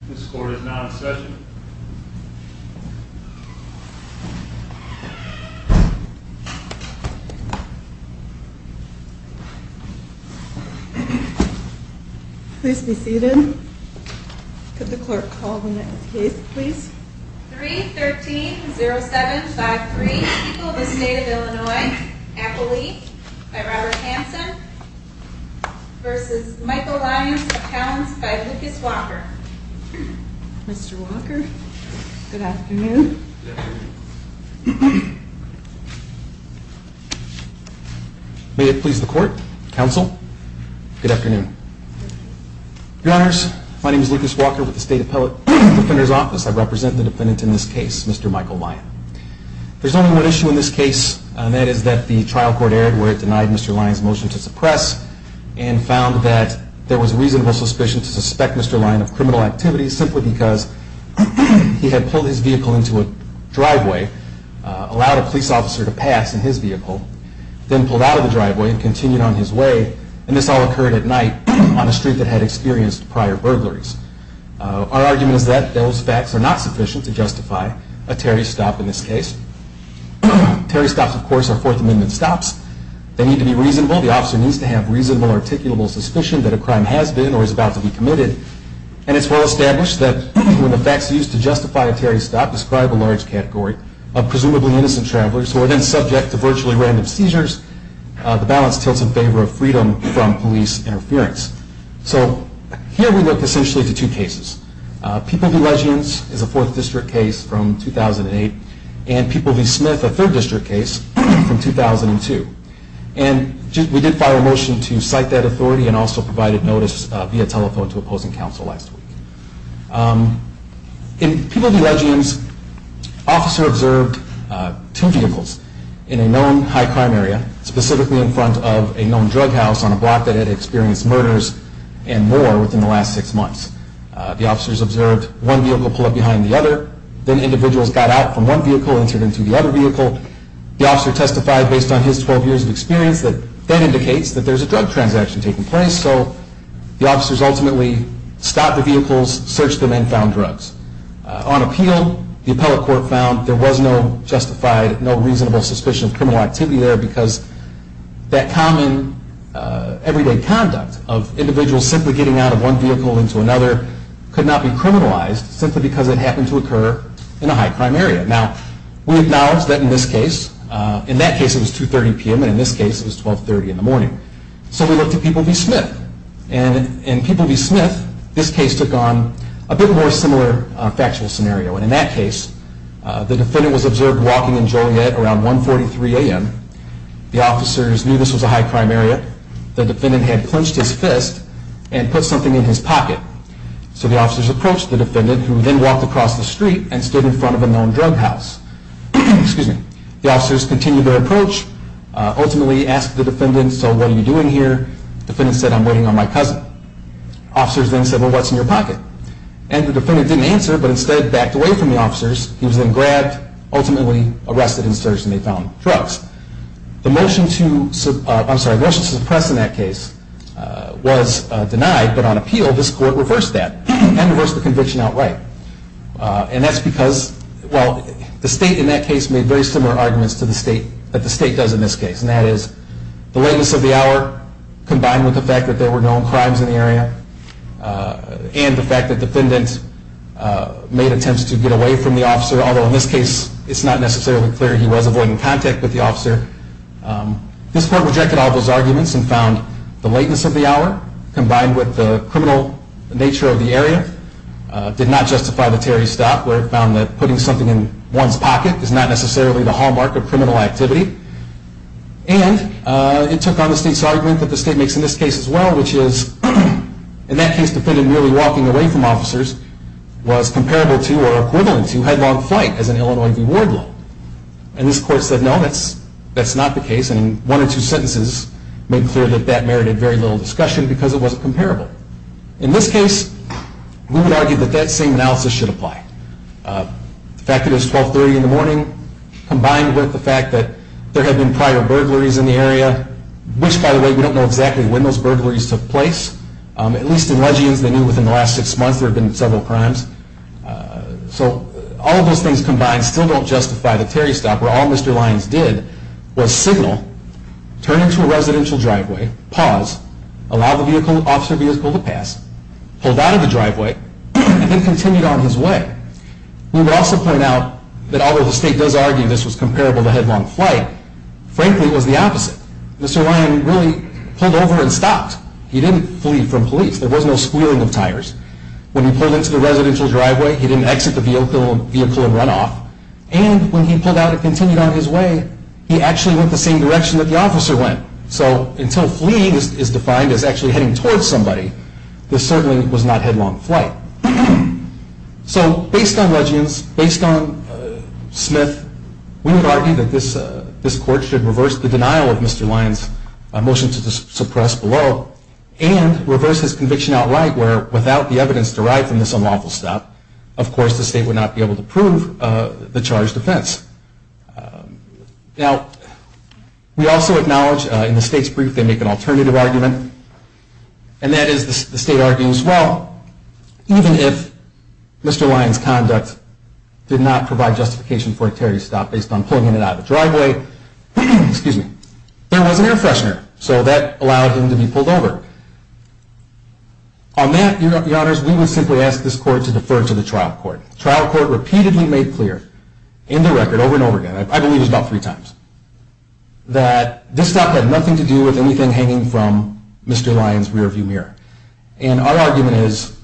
This court is now in session. Please be seated. Could the clerk call the next case, please? 3-13-07-53 People of the State of Illinois Apple Leaf v. Robert Hanson v. Michael Lyons of Towns v. Lucas Walker Mr. Walker, good afternoon. May it please the court, counsel, good afternoon. Your honors, my name is Lucas Walker with the State Appellate Defender's Office. I represent the defendant in this case, Mr. Michael Lyon. There's only one issue in this case, and that is that the trial court erred and found that there was reasonable suspicion to suspect Mr. Lyon of criminal activities simply because he had pulled his vehicle into a driveway, allowed a police officer to pass in his vehicle, then pulled out of the driveway and continued on his way, and this all occurred at night on a street that had experienced prior burglaries. Our argument is that those facts are not sufficient to justify a Terry stop in this case. Terry stops, of course, are Fourth Amendment stops. They need to be reasonable. The officer needs to have reasonable, articulable suspicion that a crime has been or is about to be committed, and it's well established that when the facts used to justify a Terry stop describe a large category of presumably innocent travelers who are then subject to virtually random seizures, the balance tilts in favor of freedom from police interference. So here we look essentially to two cases. People v. Leggings is a Fourth District case from 2008, and People v. Smith, a Third District case from 2002, and we did fire a motion to cite that authority and also provided notice via telephone to opposing counsel last week. In People v. Leggings, officers observed two vehicles in a known high crime area, specifically in front of a known drug house on a block that had experienced murders and more within the last six months. The officers observed one vehicle pull up behind the other, then individuals got out from one vehicle and entered into the other vehicle. The officer testified based on his 12 years of experience that that indicates that there's a drug transaction taking place, so the officers ultimately stopped the vehicles, searched them, and found drugs. On appeal, the appellate court found there was no justified, no reasonable suspicion of criminal activity there because that common everyday conduct of individuals simply getting out of one vehicle into another could not be criminalized simply because it happened to occur in a high crime area. Now, we acknowledge that in this case, in that case it was 2.30 p.m., and in this case it was 12.30 in the morning. So we looked at People v. Smith, and in People v. Smith, this case took on a bit more similar factual scenario, and in that case, the defendant was observed walking in Joliet around 1.43 a.m. The officers knew this was a high crime area. The defendant had clenched his fist and put something in his pocket. So the officers approached the defendant, who then walked across the street and stood in front of a known drug house. The officers continued their approach, ultimately asked the defendant, so what are you doing here? The defendant said, I'm waiting on my cousin. Officers then said, well, what's in your pocket? And the defendant didn't answer, but instead backed away from the officers. He was then grabbed, ultimately arrested and searched, and they found drugs. The motion to suppress in that case was denied, but on appeal, this Court reversed that and reversed the conviction outright. And that's because, well, the State in that case made very similar arguments to what the State does in this case, and that is the lateness of the hour combined with the fact that there were known crimes in the area and the fact that the defendant made attempts to get away from the officer, although in this case it's not necessarily clear he was avoiding contact with the officer. This Court rejected all those arguments and found the lateness of the hour combined with the criminal nature of the area did not justify the Terry stop, where it found that putting something in one's pocket is not necessarily the hallmark of criminal activity. And it took on the State's argument that the State makes in this case as well, which is in that case the defendant merely walking away from officers was comparable to or equivalent to headlong flight as in Illinois v. Wardlow. And this Court said, no, that's not the case, and in one or two sentences made clear that that merited very little discussion because it wasn't comparable. In this case, we would argue that that same analysis should apply. The fact that it was 1230 in the morning combined with the fact that there had been prior burglaries in the area, which, by the way, we don't know exactly when those burglaries took place. At least in Leggian's they knew within the last six months there had been several crimes. So all of those things combined still don't justify the Terry stop, where all Mr. Lyons did was signal, turn into a residential driveway, pause, allow the officer vehicle to pass, pulled out of the driveway, and then continued on his way. We would also point out that although the State does argue this was comparable to headlong flight, frankly it was the opposite. Mr. Lyons really pulled over and stopped. He didn't flee from police. There was no squealing of tires. When he pulled into the residential driveway, he didn't exit the vehicle and run off. And when he pulled out and continued on his way, he actually went the same direction that the officer went. So until fleeing is defined as actually heading towards somebody, this certainly was not headlong flight. So based on Leggian's, based on Smith, we would argue that this court should reverse the denial of Mr. Lyons' motion to suppress below and reverse his conviction outright where, without the evidence derived from this unlawful stop, of course the State would not be able to prove the charged offense. Now, we also acknowledge in the State's brief they make an alternative argument, and that is the State argues, well, even if Mr. Lyons' conduct did not provide justification for a tariff stop based on pulling him out of the driveway, there was an air freshener, so that allowed him to be pulled over. On that, Your Honors, we would simply ask this court to defer to the trial court. The trial court repeatedly made clear in the record over and over again, I believe it was about three times, that this stop had nothing to do with anything hanging from Mr. Lyons' rearview mirror. And our argument is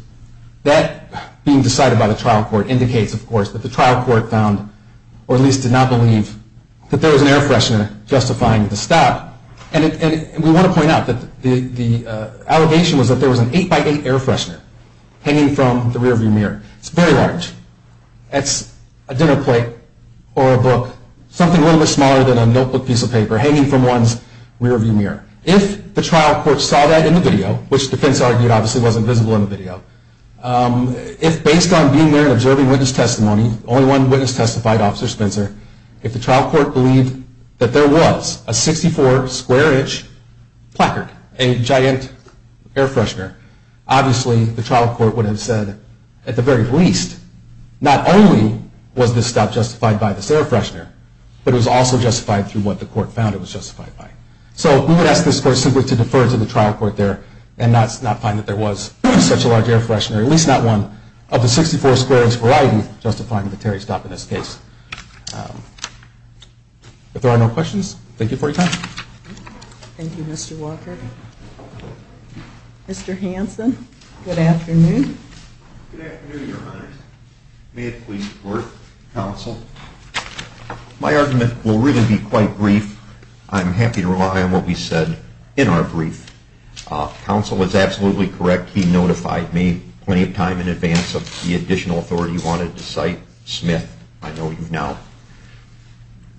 that being decided by the trial court indicates, of course, that the trial court found, or at least did not believe, that there was an air freshener justifying the stop. And we want to point out that the allegation was that there was an 8x8 air freshener hanging from the rearview mirror. It's very large. It's a dinner plate or a book, something a little bit smaller than a notebook piece of paper, hanging from one's rearview mirror. If the trial court saw that in the video, which the defense argued obviously wasn't visible in the video, if based on being there and observing witness testimony, only one witness testified, Officer Spencer, if the trial court believed that there was a 64 square inch placard, a giant air freshener, obviously the trial court would have said, at the very least, not only was this stop justified by this air freshener, but it was also justified through what the court found it was justified by. So we would ask this court simply to defer to the trial court there and not find that there was such a large air freshener, at least not one, of the 64 square inch variety justifying the Terry stop in this case. If there are no questions, thank you for your time. Thank you, Mr. Walker. Mr. Hanson, good afternoon. Good afternoon, Your Honor. May it please the court, counsel. My argument will really be quite brief. I'm happy to rely on what we said in our brief. Counsel is absolutely correct. He notified me plenty of time in advance of the additional authority he wanted to cite. Smith, I know you've now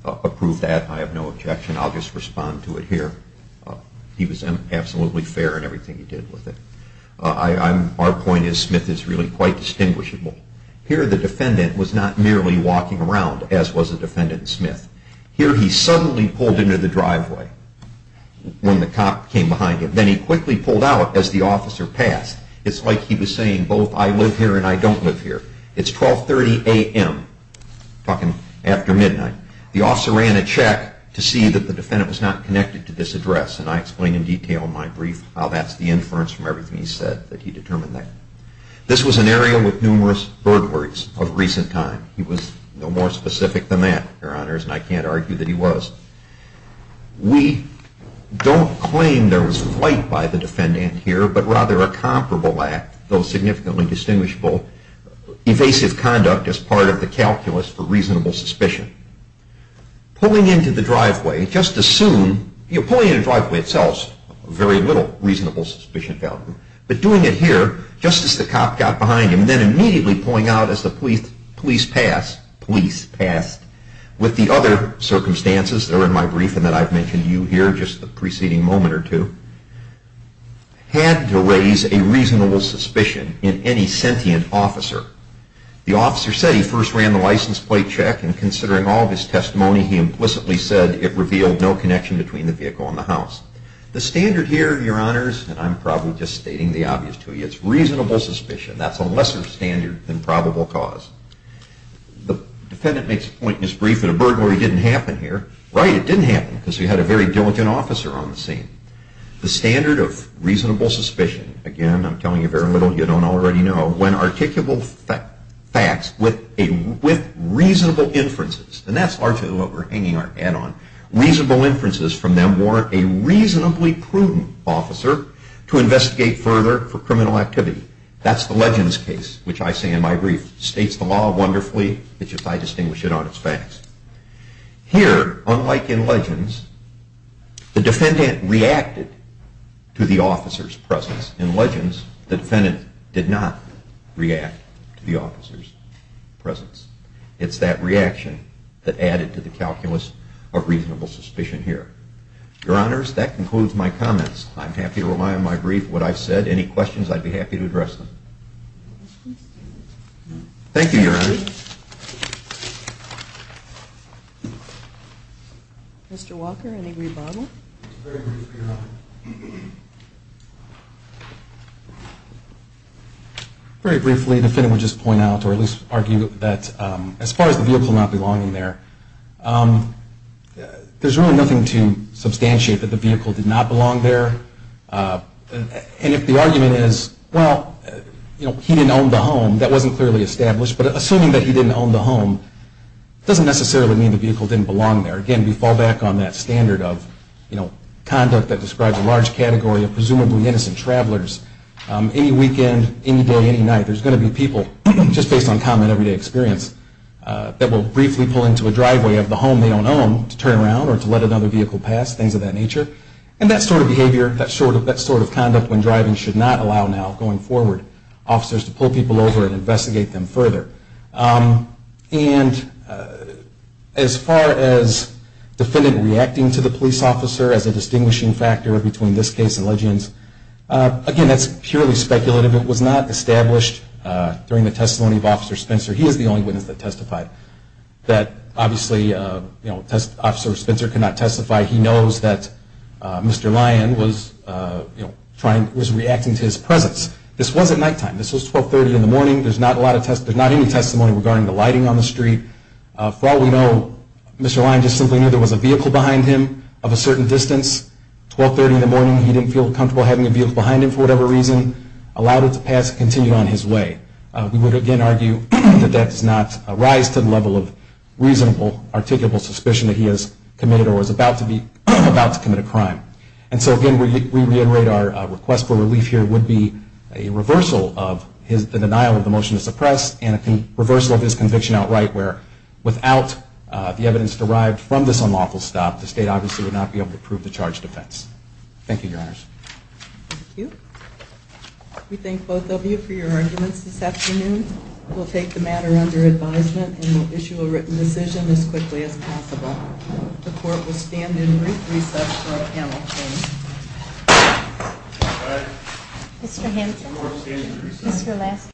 approved that. I have no objection. I'll just respond to it here. He was absolutely fair in everything he did with it. Our point is Smith is really quite distinguishable. Here the defendant was not merely walking around, as was the defendant Smith. Here he suddenly pulled into the driveway when the cop came behind him. Then he quickly pulled out as the officer passed. It's like he was saying both I live here and I don't live here. It's 1230 AM, talking after midnight. The officer ran a check to see that the defendant was not connected to this address, and I explain in detail in my brief how that's the inference from everything he said that he determined that. This was an area with numerous burglaries of recent time. He was no more specific than that, Your Honors, and I can't argue that he was. We don't claim there was flight by the defendant here, but rather a comparable act, though significantly distinguishable, evasive conduct as part of the calculus for reasonable suspicion. Pulling into the driveway just as soon, you know, pulling into the driveway itself, very little reasonable suspicion found, but doing it here just as the cop got behind him and then immediately pulling out as the police passed, police passed, with the other circumstances that are in my brief and that I've mentioned to you here, just the preceding moment or two, had to raise a reasonable suspicion in any sentient officer. The officer said he first ran the license plate check, and considering all of his testimony, he implicitly said it revealed no connection between the vehicle and the house. The standard here, Your Honors, and I'm probably just stating the obvious to you, is reasonable suspicion. That's a lesser standard than probable cause. The defendant makes a point in his brief that a burglary didn't happen here. Right, it didn't happen because we had a very diligent officer on the scene. The standard of reasonable suspicion, again, I'm telling you very little you don't already know, when articulable facts with reasonable inferences, and that's largely what we're hanging our hat on, reasonable inferences from them warrant a reasonably prudent officer to investigate further for criminal activity. That's the legends case, which I say in my brief, states the law wonderfully, it's just I distinguish it on its facts. Here, unlike in legends, the defendant reacted to the officer's presence. In legends, the defendant did not react to the officer's presence. It's that reaction that added to the calculus of reasonable suspicion here. Your Honors, that concludes my comments. I'm happy to rely on my brief, what I've said. Any questions, I'd be happy to address them. Thank you, Your Honors. Mr. Walker, any rebuttal? Very briefly, the defendant would just point out, or at least argue, that as far as the vehicle not belonging there, there's really nothing to substantiate that the vehicle did not belong there. And if the argument is, well, he didn't own the home, that wasn't clearly established, but assuming that he didn't own the home doesn't necessarily mean the vehicle didn't belong there. Again, we fall back on that standard of conduct that describes a large category of presumably innocent travelers. Any weekend, any day, any night, there's going to be people, just based on common everyday experience, that will briefly pull into a driveway of the home they don't own to turn around or to let another vehicle pass, things of that nature. And that sort of behavior, that sort of conduct when driving should not allow now, going forward, officers to pull people over and investigate them further. And as far as defendant reacting to the police officer as a distinguishing factor between this case and legends, again, that's purely speculative. It was not established during the testimony of Officer Spencer. He is the only witness that testified. Obviously, Officer Spencer cannot testify. He knows that Mr. Lyon was reacting to his presence. This was at nighttime. This was 1230 in the morning. There's not any testimony regarding the lighting on the street. For all we know, Mr. Lyon just simply knew there was a vehicle behind him of a certain distance. 1230 in the morning, he didn't feel comfortable having a vehicle behind him for whatever reason. Allowed it to pass and continued on his way. We would, again, argue that that does not rise to the level of reasonable, articulable suspicion that he has committed or was about to commit a crime. And so, again, we reiterate our request for relief here would be a reversal of the denial of the motion to suppress and a reversal of his conviction outright where, without the evidence derived from this unlawful stop, the state obviously would not be able to prove the charge of offense. Thank you, Your Honors. Thank you. We thank both of you for your arguments this afternoon. We'll take the matter under advisement and we'll issue a written decision as quickly as possible. The court will stand in brief recess for our panel, please. Mr. Hampton? We will stand in recess. Mr. Lasky?